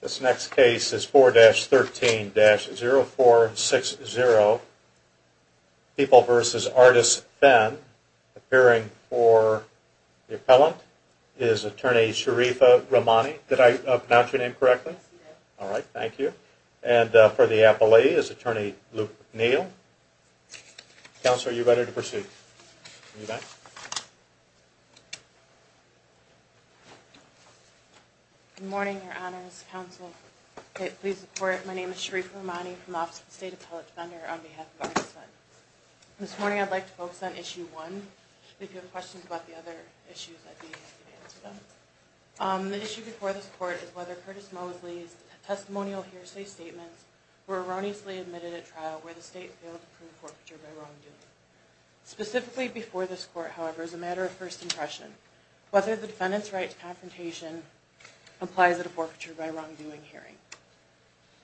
This next case is 4-13-0460, People v. Artist Fenn. Appearing for the appellant is Attorney Sharifa Rahmani. Did I pronounce your name correctly? Yes, you did. Alright, thank you. And for the appellee is Attorney Luke Neal. Counselor, are you ready to proceed? Yes. Good morning, Your Honors. Counsel, please report. My name is Sharifa Rahmani from the Office of the State Appellate Defender on behalf of Artist Fenn. This morning I'd like to focus on Issue 1. If you have questions about the other issues, I'd be happy to answer them. The issue before this court is whether Curtis Mosley's testimonial hearsay statements were erroneously admitted at trial where the state failed to prove forfeiture by wrongdoing. Specifically before this court, however, as a matter of first impression, whether the defendant's right to confrontation applies at a forfeiture by wrongdoing hearing.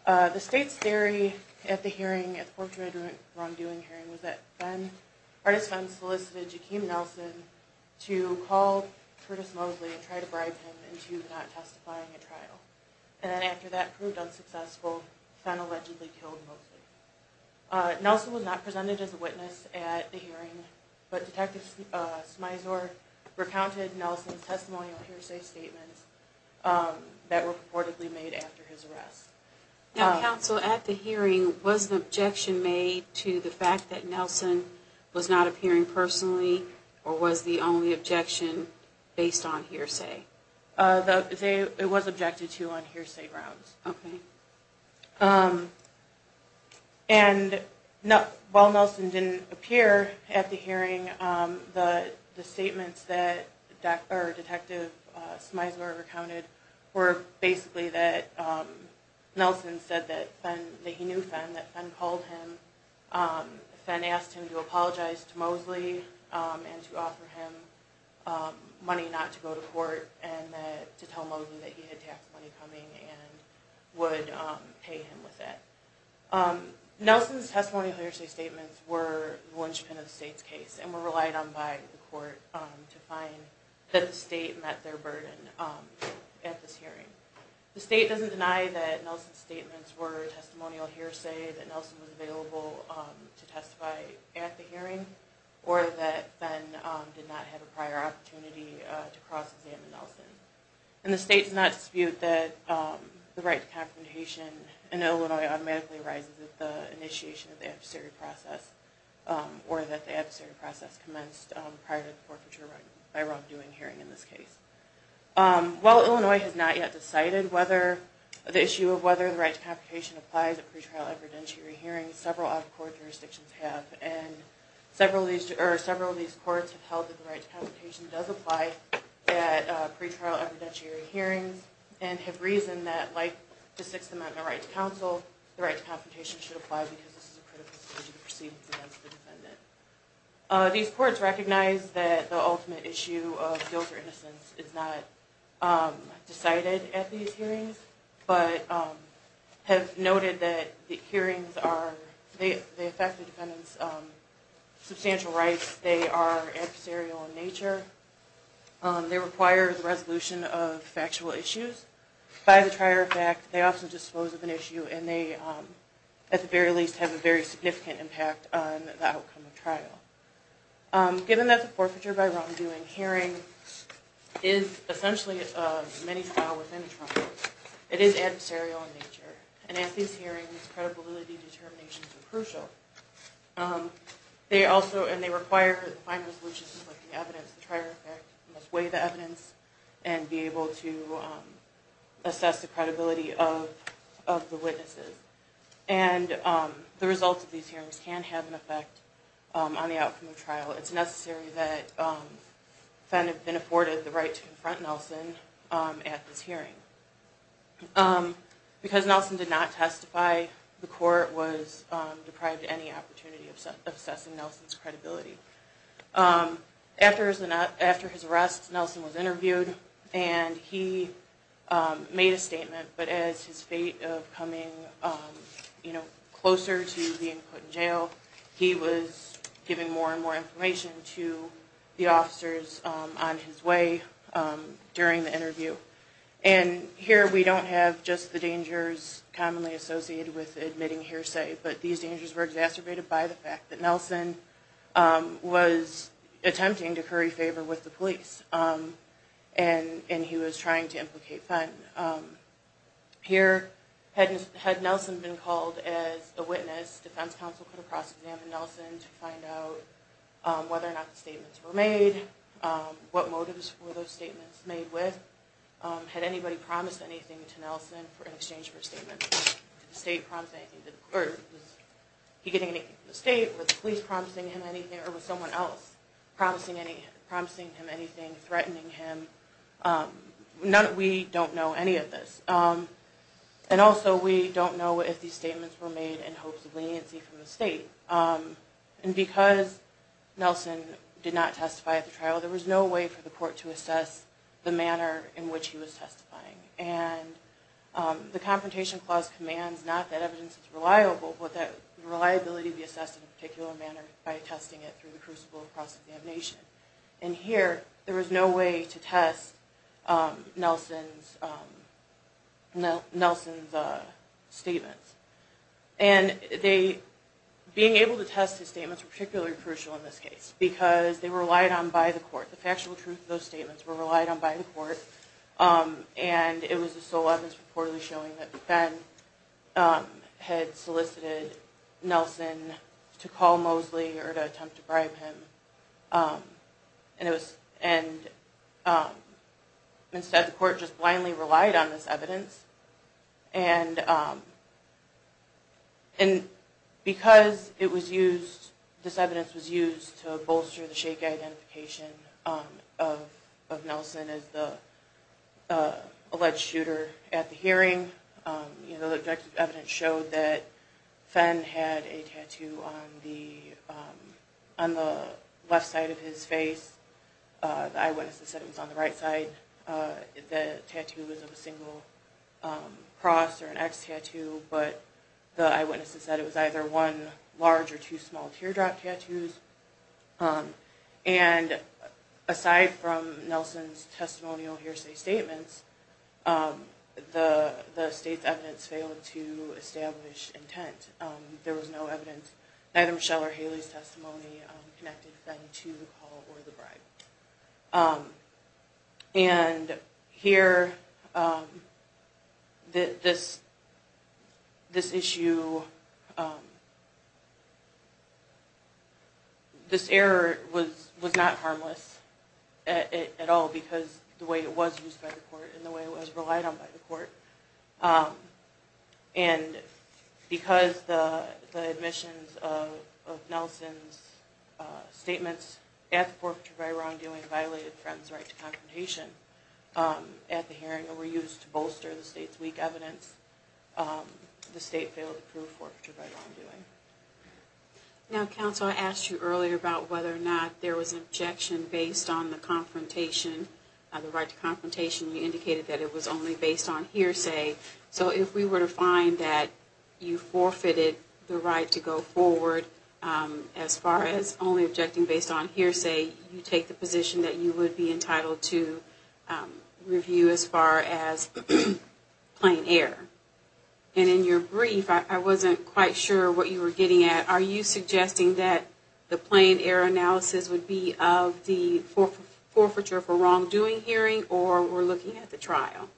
The state's theory at the hearing, at the forfeiture by wrongdoing hearing, was that Fenn, Artist Fenn, solicited Jahkeem Nelson to call Curtis Mosley and try to bribe him into not testifying at trial. And then after that proved unsuccessful, Fenn allegedly killed Mosley. Nelson was not presented as a witness at the hearing, but Detective Smyzor recounted Nelson's testimonial hearsay statements that were purportedly made after his arrest. Now, Counsel, at the hearing, was the objection made to the fact that Nelson was not appearing personally, or was the only objection based on hearsay? It was objected to on hearsay grounds. And while Nelson didn't appear at the hearing, the statements that Detective Smyzor recounted were basically that Nelson said that he knew Fenn, that Fenn called him. Fenn asked him to apologize to Mosley and to offer him money not to go to court and to tell Mosley that he had tax money coming and would pay him with that. Nelson's testimonial hearsay statements were the linchpin of the state's case and were relied on by the court to find that the state met their burden at this hearing. The state doesn't deny that Nelson's statements were testimonial hearsay, that Nelson was available to testify at the hearing, or that Fenn did not have a prior opportunity to cross-examine Nelson. And the state does not dispute that the right to confrontation in Illinois automatically arises at the initiation of the adversary process, or that the adversary process commenced prior to the forfeiture by wrongdoing hearing in this case. While Illinois has not yet decided whether the issue of whether the right to confrontation applies at pretrial evidentiary hearings, several other court jurisdictions have. And several of these courts have held that the right to confrontation does apply at pretrial evidentiary hearings and have reasoned that, like the Sixth Amendment right to counsel, the right to confrontation should apply because this is a critical decision to proceed against the defendant. These courts recognize that the ultimate issue of guilt or innocence is not decided at these hearings, but have noted that the hearings affect the defendant's substantial rights. They are adversarial in nature. They require the resolution of factual issues. By the trier of fact, they often dispose of an issue and they, at the very least, have a very significant impact on the outcome of trial. Given that the forfeiture by wrongdoing hearing is essentially a mini-trial within a trial court, it is adversarial in nature. And at these hearings, credibility determinations are crucial. They also, and they require that the final resolution, like the evidence, the trier of fact, must weigh the evidence and be able to assess the credibility of the witnesses. And the results of these hearings can have an effect on the outcome of trial. It's necessary that the defendant have been afforded the right to confront Nelson at this hearing. Because Nelson did not testify, the court was deprived any opportunity of assessing Nelson's credibility. After his arrest, Nelson was interviewed and he made a statement, but as his fate of coming closer to being put in jail, he was giving more and more information to the officers on his way during the interview. And here we don't have just the dangers commonly associated with admitting hearsay, but these dangers were exacerbated by the fact that Nelson was attempting to curry favor with the police. And he was trying to implicate Fenton. Here, had Nelson been called as a witness, defense counsel could have cross-examined Nelson to find out whether or not the statements were made, what motives were those statements made with, had anybody promised anything to Nelson in exchange for a statement. Did the state promise anything, or was he getting anything from the state, was the police promising him anything, or was someone else promising him anything, threatening him? We don't know any of this. And also, we don't know if these statements were made in hopes of leniency from the state. And because Nelson did not testify at the trial, there was no way for the court to assess the manner in which he was testifying. And the Confrontation Clause commands not that evidence is reliable, but that reliability be assessed in a particular manner by testing it through the crucible of cross-examination. And here, there was no way to test Nelson's statements. And being able to test his statements were particularly crucial in this case, because they were relied on by the court. The factual truth of those statements were relied on by the court. And it was the sole evidence reportedly showing that Ben had solicited Nelson to call Mosley or to attempt to bribe him. And instead, the court just blindly relied on this evidence. And because this evidence was used to bolster the shake-eye identification of Nelson as the alleged shooter at the hearing, the objective evidence showed that Ben had a tattoo on the left side of his face. The eyewitnesses said it was on the right side. The tattoo was of a single cross or an X tattoo, but the eyewitnesses said it was either one large or two small teardrop tattoos. And aside from Nelson's testimonial hearsay statements, the state's evidence failed to establish intent. There was no evidence, neither Michelle's or Haley's testimony connected Ben to the call or the bribe. And here, this issue, this error was not harmless at all because of the way it was used by the court and the way it was relied on by the court. And because the admissions of Nelson's statements at the forfeiture by wrongdoing violated Fred's right to confrontation at the hearing or were used to bolster the state's weak evidence, the state failed to prove forfeiture by wrongdoing. Now, counsel, I asked you earlier about whether or not there was an objection based on the confrontation. The right to confrontation, you indicated that it was only based on hearsay. So if we were to find that you forfeited the right to go forward as far as only objecting based on hearsay, you take the position that you would be entitled to review as far as plain error. And in your brief, I wasn't quite sure what you were getting at. Are you suggesting that the plain error analysis would be of the forfeiture for wrongdoing hearing or we're looking at the trial?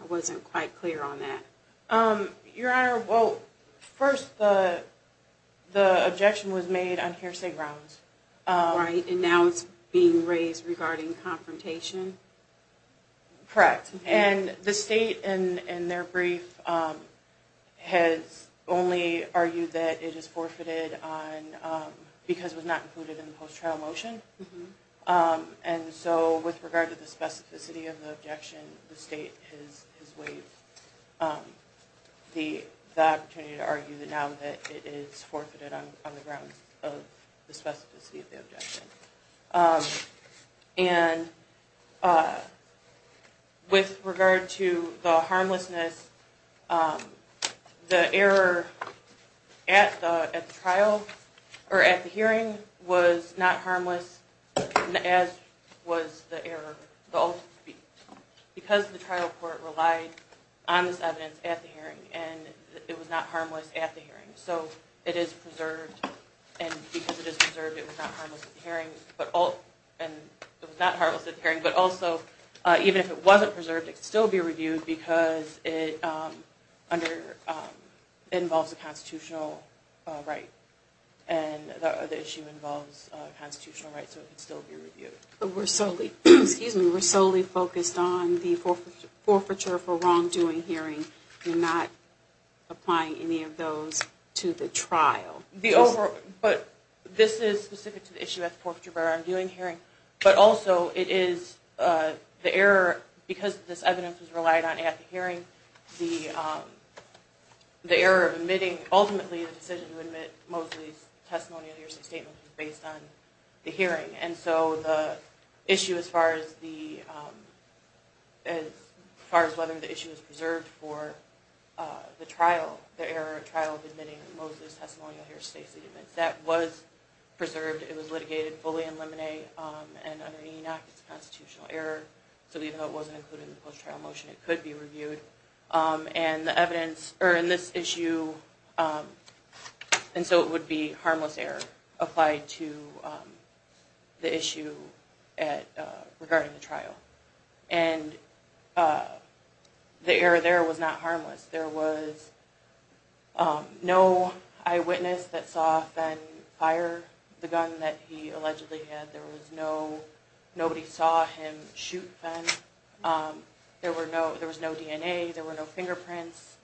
I wasn't quite clear on that. Your Honor, well, first, the objection was made on hearsay grounds. Right, and now it's being raised regarding confrontation. Correct. And the state, in their brief, has only argued that it is forfeited because it was not included in the post-trial motion. And so with regard to the specificity of the objection, the state has waived the opportunity to argue that now that it is forfeited on the grounds of the specificity of the objection. And with regard to the harmlessness, the error at the trial or at the hearing was not harmless as was the error. Because the trial court relied on this evidence at the hearing and it was not harmless at the hearing. So it is preserved. And because it is preserved, it was not harmless at the hearing. But also, even if it wasn't preserved, it could still be reviewed because it involves a constitutional right. And the issue involves a constitutional right, so it could still be reviewed. We're solely focused on the forfeiture for wrongdoing hearing. We're not applying any of those to the trial. But this is specific to the issue of the forfeiture for wrongdoing hearing. But also, because this evidence was relied on at the hearing, the error of admitting, ultimately, the decision to admit Moseley's testimony or statement was based on the hearing. And so the issue as far as whether the issue is preserved for the trial, the error of trial of admitting Moseley's testimony or statement, that was preserved. It was litigated, fully in limine, and under the Enoch, it's a constitutional error. So even though it wasn't included in the post-trial motion, it could be reviewed. And the evidence in this issue, and so it would be harmless error applied to the issue regarding the trial. And the error there was not harmless. There was no eyewitness that saw Fenn fire the gun that he allegedly had. There was no, nobody saw him shoot Fenn. There was no DNA. There were no fingerprints.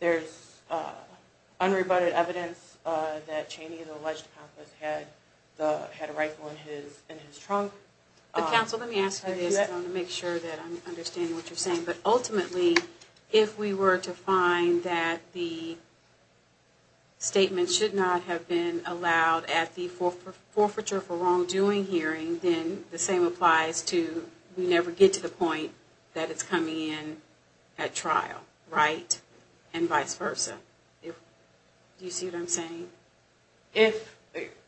There's unrebutted evidence that Cheney, the alleged accomplice, had a rifle in his trunk. But counsel, let me ask you this. I want to make sure that I'm understanding what you're saying. But ultimately, if we were to find that the statement should not have been allowed at the forfeiture for wrongdoing hearing, then the same applies to we never get to the point that it's coming in at trial, right? And vice versa. Do you see what I'm saying? If,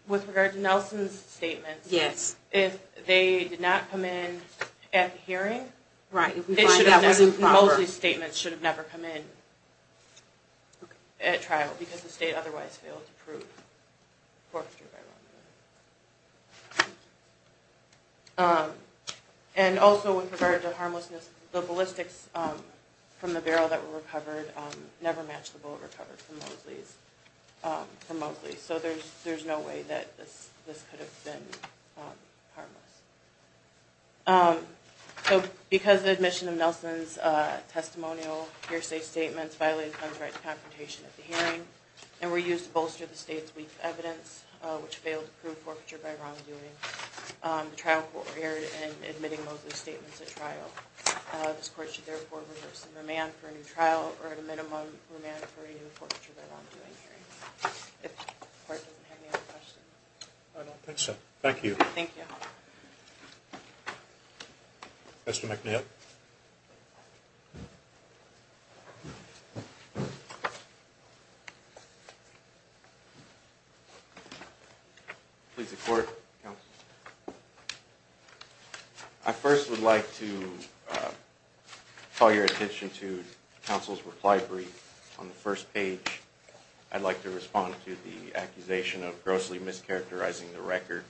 with regard to Nelson's statement, if they did not come in at the hearing, it should have never, Mosley's statement should have never come in at trial, because the state otherwise failed to prove forfeiture by wrongdoing. And also with regard to harmlessness, the ballistics from the barrel that were recovered never matched the bullet recovered from Mosley's. So there's no way that this could have been harmless. So because of the admission of Nelson's testimonial, hearsay statements, violated gun rights confrontation at the hearing, and were used to bolster the state's weak evidence, which failed to prove forfeiture by wrongdoing, the trial court erred in admitting Mosley's statements at trial. This court should therefore reverse the remand for a new trial or a minimum remand for a new forfeiture by wrongdoing hearing. If the court doesn't have any other questions. Thank you. Thank you. I first would like to call your attention to counsel's reply brief on the first page. I'd like to respond to the accusation of grossly mischaracterizing the record.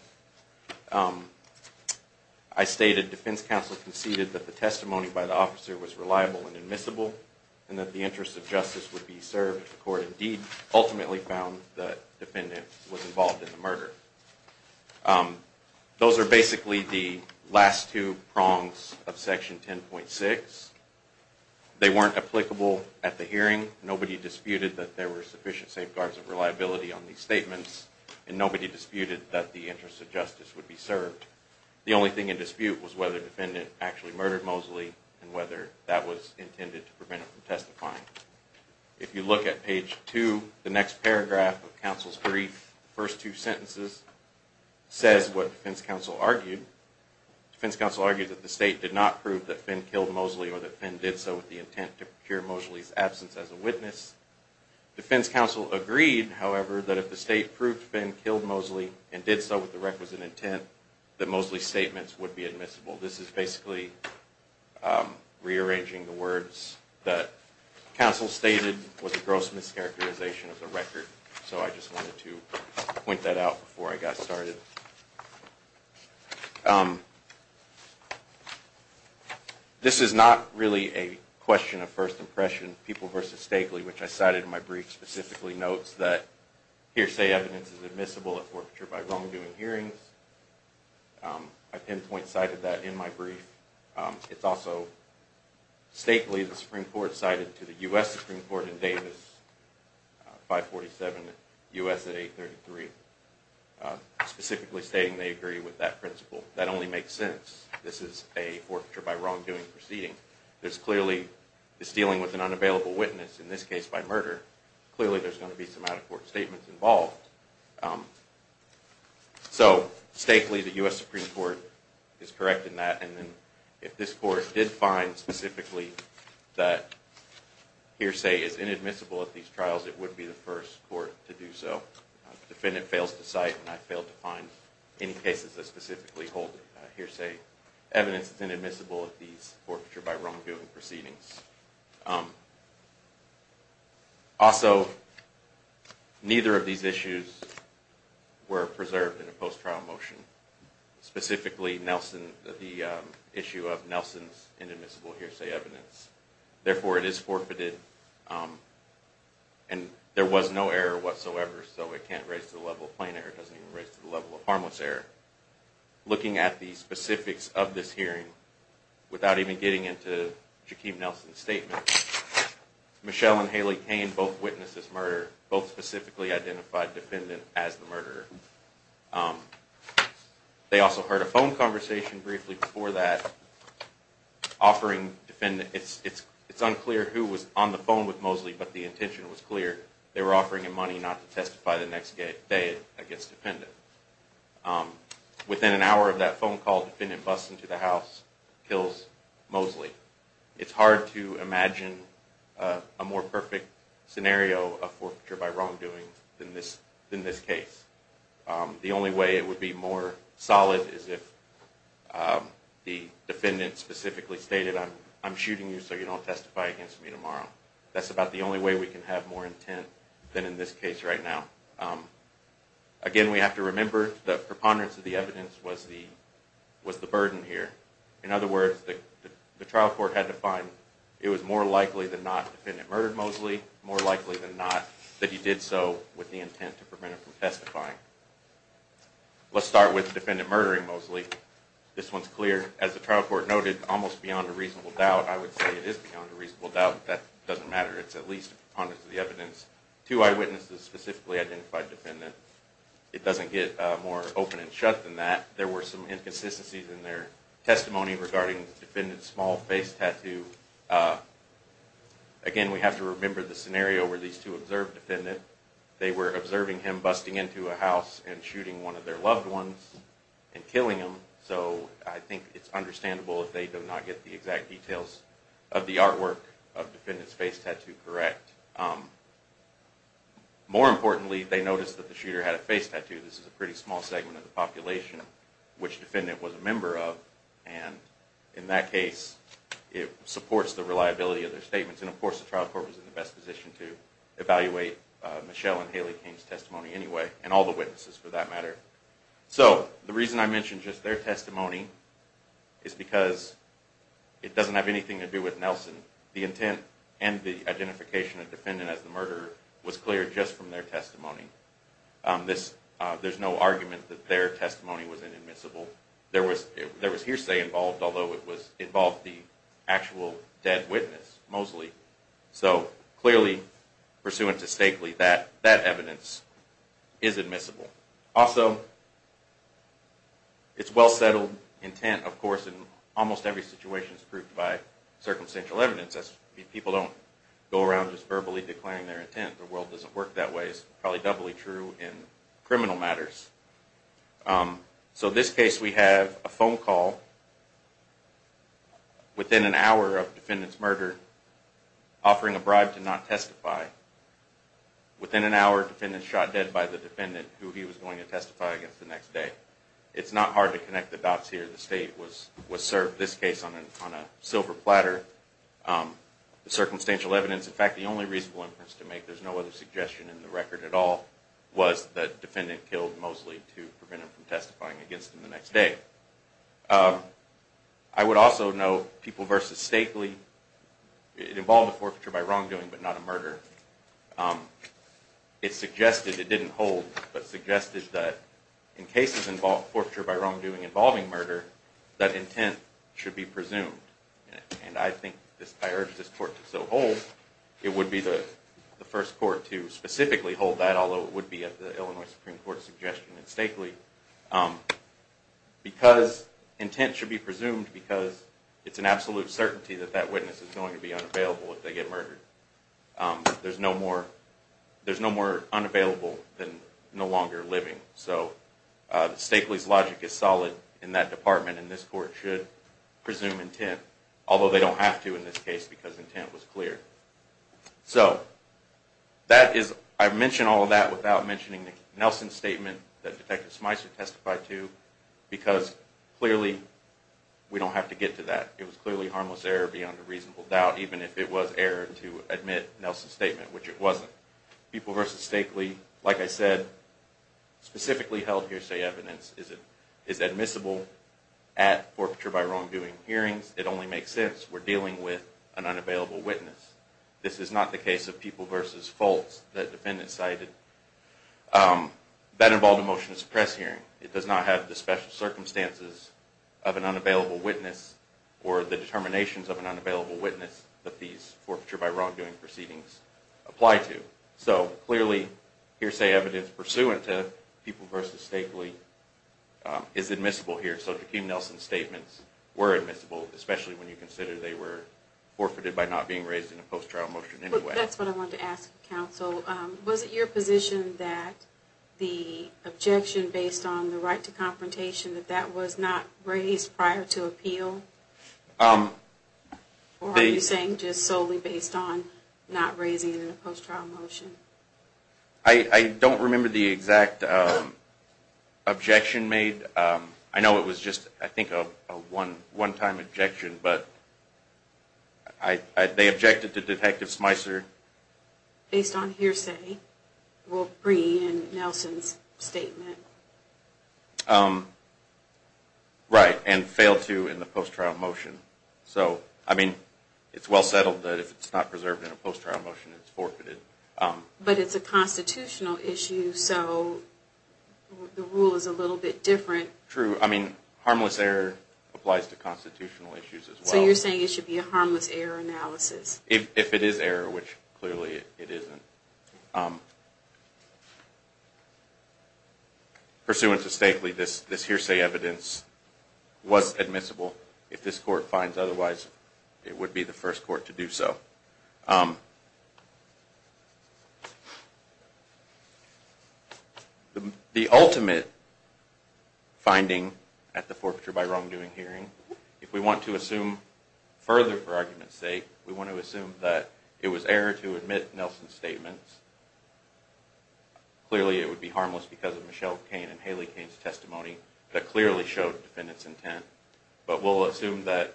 I stated defense counsel conceded that the testimony by the officer was reliable and admissible, and that the interest of justice would be served if the court indeed ultimately found the defendant was involved in the murder. Those are basically the last two prongs of section 10.6. They weren't applicable at the hearing. Nobody disputed that there were sufficient safeguards of reliability on these statements, and nobody disputed that the interest of justice would be served. The only thing in dispute was whether the defendant actually murdered Mosley and whether that was intended to prevent him from testifying. If you look at page 2, the next paragraph of counsel's brief, the first two sentences, says what defense counsel argued. Defense counsel argued that the state did not prove that Finn killed Mosley or that Finn did so with the intent to procure Mosley's absence as a witness. Defense counsel agreed, however, that if the state proved Finn killed Mosley and did so with the requisite intent, that Mosley's statements would be admissible. This is basically rearranging the words that counsel stated was a gross mischaracterization of the record. So I just wanted to point that out before I got started. This is not really a question of first impression. People v. Stakely, which I cited in my brief, specifically notes that hearsay evidence is admissible at forfeiture by wrongdoing hearings. I pinpoint cited that in my brief. It's also Stakely, the Supreme Court, cited to the U.S. Supreme Court in Davis, 547 U.S. at 833, specifically stating they agree with that principle. That only makes sense. This is a forfeiture by wrongdoing proceeding. This clearly is dealing with an unavailable witness, in this case by murder. Clearly there's going to be some out-of-court statements involved. So Stakely, the U.S. Supreme Court, is correct in that. If this court did find specifically that hearsay is inadmissible at these trials, it would be the first court to do so. The defendant fails to cite and I failed to find any cases that specifically hold hearsay evidence is inadmissible at these forfeiture by wrongdoing proceedings. Also, neither of these issues were preserved in a post-trial motion. Specifically, the issue of Nelson's inadmissible hearsay evidence. Therefore, it is forfeited and there was no error whatsoever. So it can't raise to the level of plain error. It doesn't even raise to the level of harmless error. Looking at the specifics of this hearing, without even getting into Jaquib Nelson's statement, Michelle and Haley Cain both witnessed this murder. Both specifically identified the defendant as the murderer. They also heard a phone conversation briefly before that. It's unclear who was on the phone with Mosley, but the intention was clear. They were offering him money not to testify the next day against the defendant. Within an hour of that phone call, the defendant busts into the house and kills Mosley. It's hard to imagine a more perfect scenario of forfeiture by wrongdoing than this case. The only way it would be more solid is if the defendant specifically stated, I'm shooting you so you don't testify against me tomorrow. That's about the only way we can have more intent than in this case right now. Again, we have to remember that preponderance of the evidence was the burden here. In other words, the trial court had to find it was more likely than not the defendant murdered Mosley, more likely than not that he did so with the intent to prevent him from testifying. Let's start with the defendant murdering Mosley. This one's clear. As the trial court noted, almost beyond a reasonable doubt. I would say it is beyond a reasonable doubt, but that doesn't matter. It's at least preponderance of the evidence. Two eyewitnesses specifically identified the defendant. It doesn't get more open and shut than that. There were some inconsistencies in their testimony regarding the defendant's small face tattoo. Again, we have to remember the scenario where these two observed the defendant. They were observing him busting into a house and shooting one of their loved ones and killing him. So I think it's understandable if they do not get the exact details of the artwork of the defendant's face tattoo correct. More importantly, they noticed that the shooter had a face tattoo. This is a pretty small segment of the population which the defendant was a member of. And in that case, it supports the reliability of their statements. And of course the trial court was in the best position to evaluate Michelle and Haley King's testimony anyway, and all the witnesses for that matter. So the reason I mention just their testimony is because it doesn't have anything to do with Nelson. The intent and the identification of the defendant as the murderer was clear just from their testimony. There's no argument that their testimony was inadmissible. There was hearsay involved, although it involved the actual dead witness, Mosley. So clearly, pursuant to Stakely, that evidence is admissible. Also, it's well-settled intent, of course, and almost every situation is proved by circumstantial evidence. People don't go around just verbally declaring their intent. The world doesn't work that way. It's probably doubly true in criminal matters. So in this case, we have a phone call within an hour of the defendant's murder offering a bribe to not testify. Within an hour, the defendant was shot dead by the defendant who he was going to testify against the next day. It's not hard to connect the dots here. The state was served this case on a silver platter. The circumstantial evidence, in fact, the only reasonable inference to make, there's no other suggestion in the record at all, was that the defendant killed Mosley to prevent him from testifying against him the next day. I would also note, People v. Stakely, it involved a forfeiture by wrongdoing, but not a murder. It suggested, it didn't hold, but suggested that in cases forfeiture by wrongdoing involving murder, that intent should be presumed. And I think, I urge this court to so hold, it would be the first court to specifically hold that, although it would be at the Illinois Supreme Court's suggestion in Stakely, because intent should be presumed because it's an absolute certainty that that witness is going to be unavailable if they get murdered. There's no more unavailable than no longer living. So, Stakely's logic is solid in that department, and this court should presume intent, although they don't have to in this case because intent was cleared. So, that is, I mention all of that without mentioning the Nelson Statement that Detective Smyser testified to, because clearly, we don't have to get to that. It was clearly harmless error beyond a reasonable doubt, even if it was error to admit Nelson's statement, which it wasn't. People v. Stakely, like I said, specifically held hearsay evidence is admissible at forfeiture by wrongdoing hearings. It only makes sense. We're dealing with an unavailable witness. This is not the case of People v. Foltz that the defendant cited. That involved a motion to suppress hearing. It does not have the special circumstances of an unavailable witness or the determinations of an unavailable witness that these forfeiture by wrongdoing proceedings apply to. So, clearly, hearsay evidence pursuant to People v. Stakely is admissible here. So, Joaquin Nelson's statements were admissible, especially when you consider they were forfeited by not being raised in a post-trial motion anyway. That's what I wanted to ask, counsel. Was it your position that the objection based on the right to confrontation, that that was not raised prior to appeal? Or are you saying just solely based on not raising it in a post-trial motion? I don't remember the exact objection made. I know it was just, I think, a one-time objection, but they objected to Detective Smyser. Based on hearsay? Well, Brie and Nelson's statement. Right, and failed to in the post-trial motion. So, I mean, it's well settled that if it's not preserved in a post-trial motion, it's forfeited. But it's a constitutional issue, so the rule is a little bit different. True. I mean, harmless error applies to constitutional issues as well. So you're saying it should be a harmless error analysis? If it is error, which clearly it isn't. Pursuant to Stakeley, this hearsay evidence was admissible. If this court finds otherwise, it would be the first court to do so. The ultimate finding at the forfeiture by wrongdoing hearing, if we want to assume further for argument's sake, we want to assume that it was error to admit Nelson's statements. Clearly it would be harmless because of Michelle Cain and Haley Cain's testimony that clearly showed defendant's intent. But we'll assume that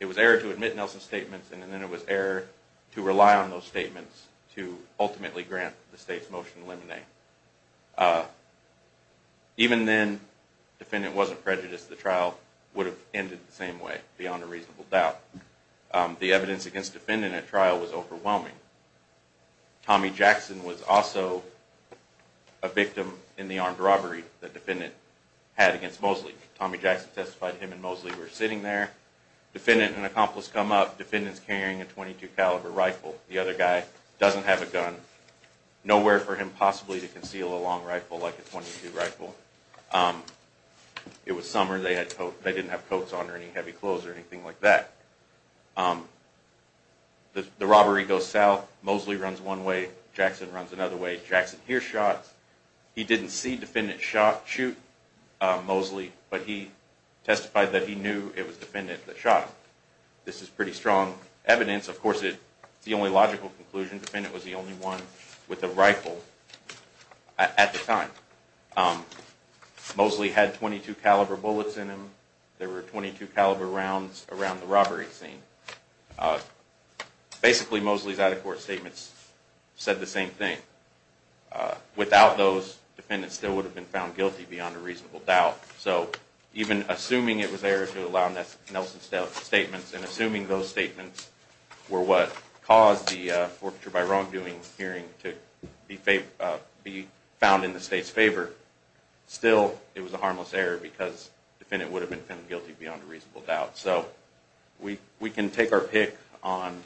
it was error to admit Nelson's statements, and then it was error to rely on those statements to ultimately grant the state's motion to eliminate. Even then, defendant wasn't prejudiced, the trial would have ended the same way, beyond a reasonable doubt. The evidence against defendant at trial was overwhelming. Tommy Jackson was also a victim in the armed robbery that defendant had against Mosley. Tommy Jackson testified him and Mosley were sitting there. Defendant and accomplice come up, defendant's carrying a .22 caliber rifle, the other guy doesn't have a gun. Nowhere for him possibly to conceal a long rifle like a .22 rifle. It was summer, they didn't have coats on or any heavy clothes or anything like that. The robbery goes south, Mosley runs one way, Jackson runs another way, Jackson hears shots. He didn't see defendant shoot Mosley, but he testified that he knew it was defendant that shot him. This is pretty strong evidence. Of course it's the only logical conclusion, defendant was the only one with a rifle at the time. Mosley had .22 caliber bullets in him, there were .22 caliber rounds around the robbery scene. Basically Mosley's out-of-court statements said the same thing. Without those, defendant still would have been found guilty beyond a reasonable doubt. Even assuming it was error to allow Nelson's statements and assuming those statements were what caused the forfeiture by wrongdoing hearing to be found in the state's favor, still it was a harmless error because defendant would have been found guilty beyond a reasonable doubt. We can take our pick on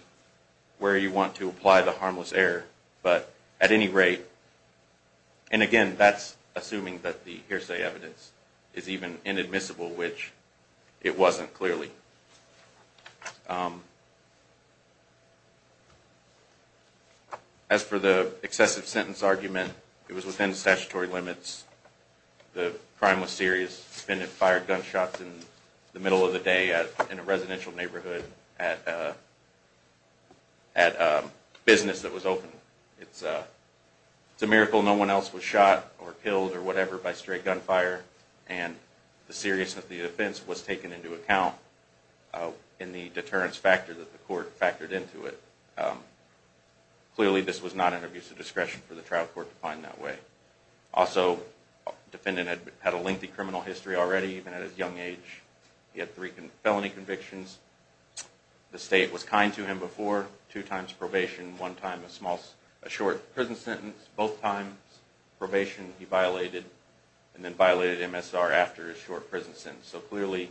where you want to apply the harmless error, but at any rate, and again that's assuming that the hearsay evidence is even inadmissible, which it wasn't clearly. As for the excessive sentence argument, it was within statutory limits. The crime was serious, defendant fired gunshots in the middle of the day in a residential neighborhood at a business that was open. It's a miracle no one else was shot or killed by stray gunfire, and the seriousness of the offense was taken into account in the deterrence factor that the court factored into it. Clearly this was not an abuse of discretion for the trial court to find that way. Also, defendant had a lengthy criminal history already, even at his young age. He had three felony convictions. The state was kind to him before, two times probation, one time a short prison sentence, both times probation he violated, and then violated MSR after his short prison sentence. So clearly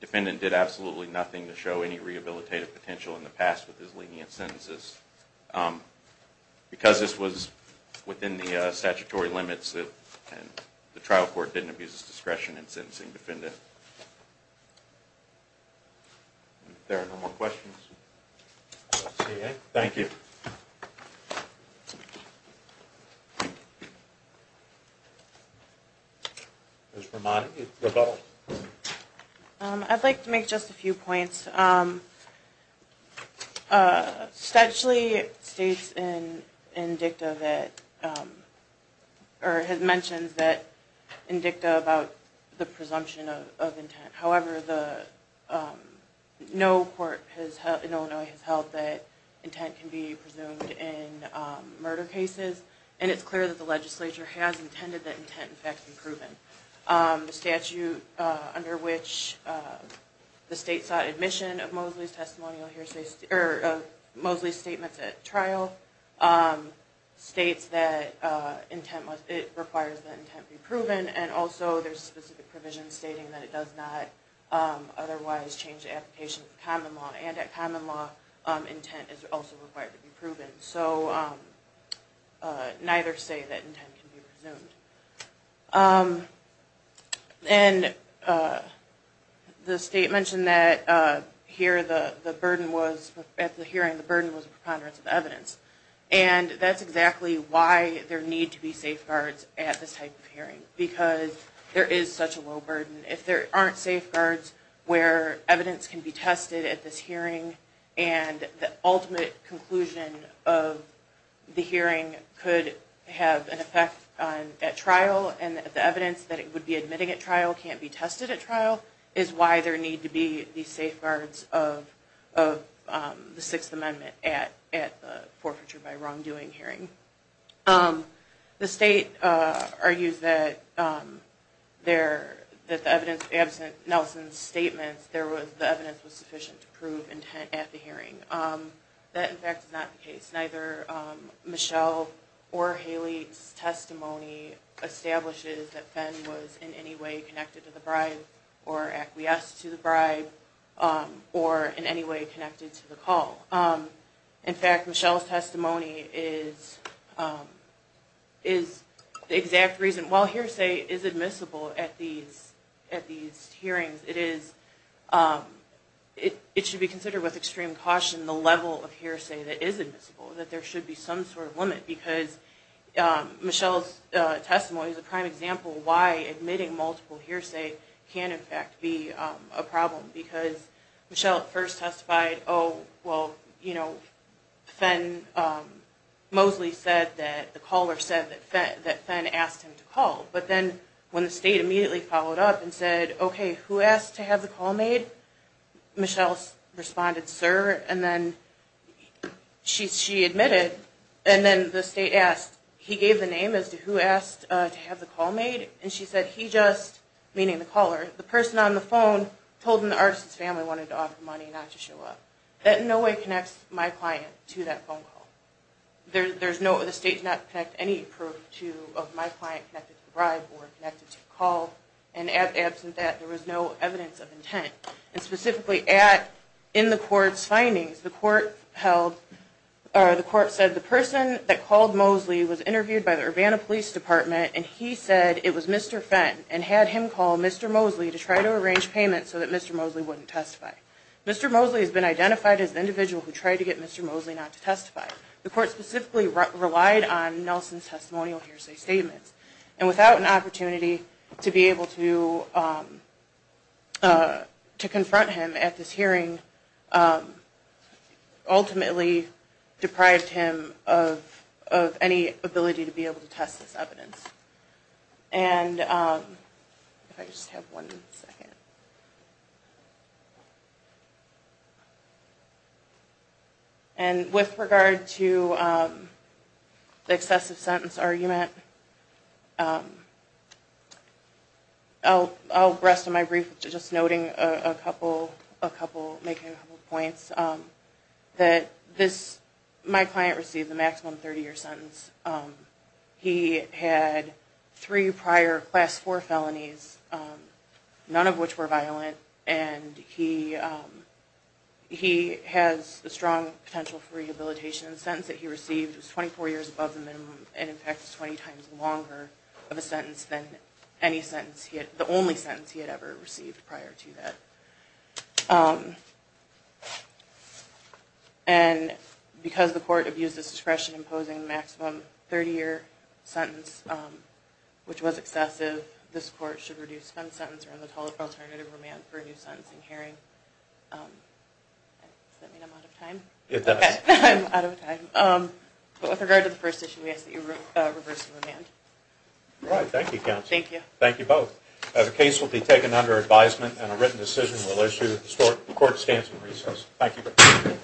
defendant did absolutely nothing to show any rehabilitative potential in the past with his lenient sentences. Because this was within the statutory limits, the trial court didn't abuse his discretion in sentencing defendant. If there are no more questions. Thank you. I'd like to make just a few points. Statutory states in DICTA that, or has mentioned that in DICTA about the presumption of intent. However, no court in Illinois has held that intent can be presumed in murder cases. And it's clear that the legislature has intended that intent in fact be proven. The statute under which the state sought admission of Mosley's statements at trial states that it requires that intent be proven. And also there's specific provisions stating that it does not otherwise change the application of common law. And that common law intent is also required to be proven. So neither state that intent can be presumed. And the state mentioned that here the burden was, at the hearing the burden was a preponderance of evidence. And that's exactly why there need to be safeguards at this type of hearing. Because there is such a low burden. If there aren't safeguards where evidence can be tested at this hearing and the ultimate conclusion of the hearing could have an effect at trial. And the evidence that it would be admitting at trial can't be tested at trial. So that's why there need to be these safeguards of the Sixth Amendment at the forfeiture by wrongdoing hearing. The state argues that the evidence absent Nelson's statements, the evidence was sufficient to prove intent at the hearing. That in fact is not the case. Neither Michelle or Haley's testimony establishes that Fenn was in any way connected to the bribe. Or acquiesced to the bribe. Or in any way connected to the call. In fact Michelle's testimony is the exact reason. While hearsay is admissible at these hearings, it should be considered with extreme caution the level of hearsay that is admissible. That there should be some sort of limit. Because Michelle's testimony is a prime example of why admitting multiple hearsay can in fact be a problem. Because Michelle at first testified, oh, well, you know, Fenn, Mosley said that the caller said that Fenn asked him to call. But then when the state immediately followed up and said, okay, who asked to have the call made? Michelle responded, sir. And then she admitted. And then the state asked, he gave the name as to who asked to have the call made. And she said he just, meaning the caller, the person on the phone, told him the Arsons family wanted to offer money not to show up. That in no way connects my client to that phone call. The state does not connect any proof of my client connected to the bribe or connected to the call. And absent that, there was no evidence of intent. And specifically in the court's findings, the court said the person that called Mosley was interviewed by the Urbana Police Department and he said it was Mr. Fenn and had him call Mr. Mosley to try to arrange payment so that Mr. Mosley wouldn't testify. Mr. Mosley has been identified as the individual who tried to get Mr. Mosley not to testify. The court specifically relied on Nelson's testimonial hearsay statements. And without an opportunity to be able to confront him at this hearing, ultimately deprived him of any ability to be able to test this evidence. And if I just have one second. And with regard to the excessive sentence argument, I'll rest on my brief just noting a couple, making a couple points. That this, my client received the maximum 30 year sentence. He had three prior class four felonies, none of which were violent. And he has a strong potential for rehabilitation. The sentence that he received was 24 years above the minimum and in fact 20 times longer of a sentence than any sentence, the only sentence he had ever received prior to that. And because the court abused its discretion imposing the maximum 30 year sentence, which was excessive, this court should reduce Fenn's sentence around the total alternative remand for a new sentencing hearing. Does that mean I'm out of time? It does. Okay, I'm out of time. But with regard to the first issue, we ask that you reverse the remand. Alright, thank you counsel. Thank you. Thank you both. The case will be taken under advisement and a written decision will issue. The court stands in recess. Thank you.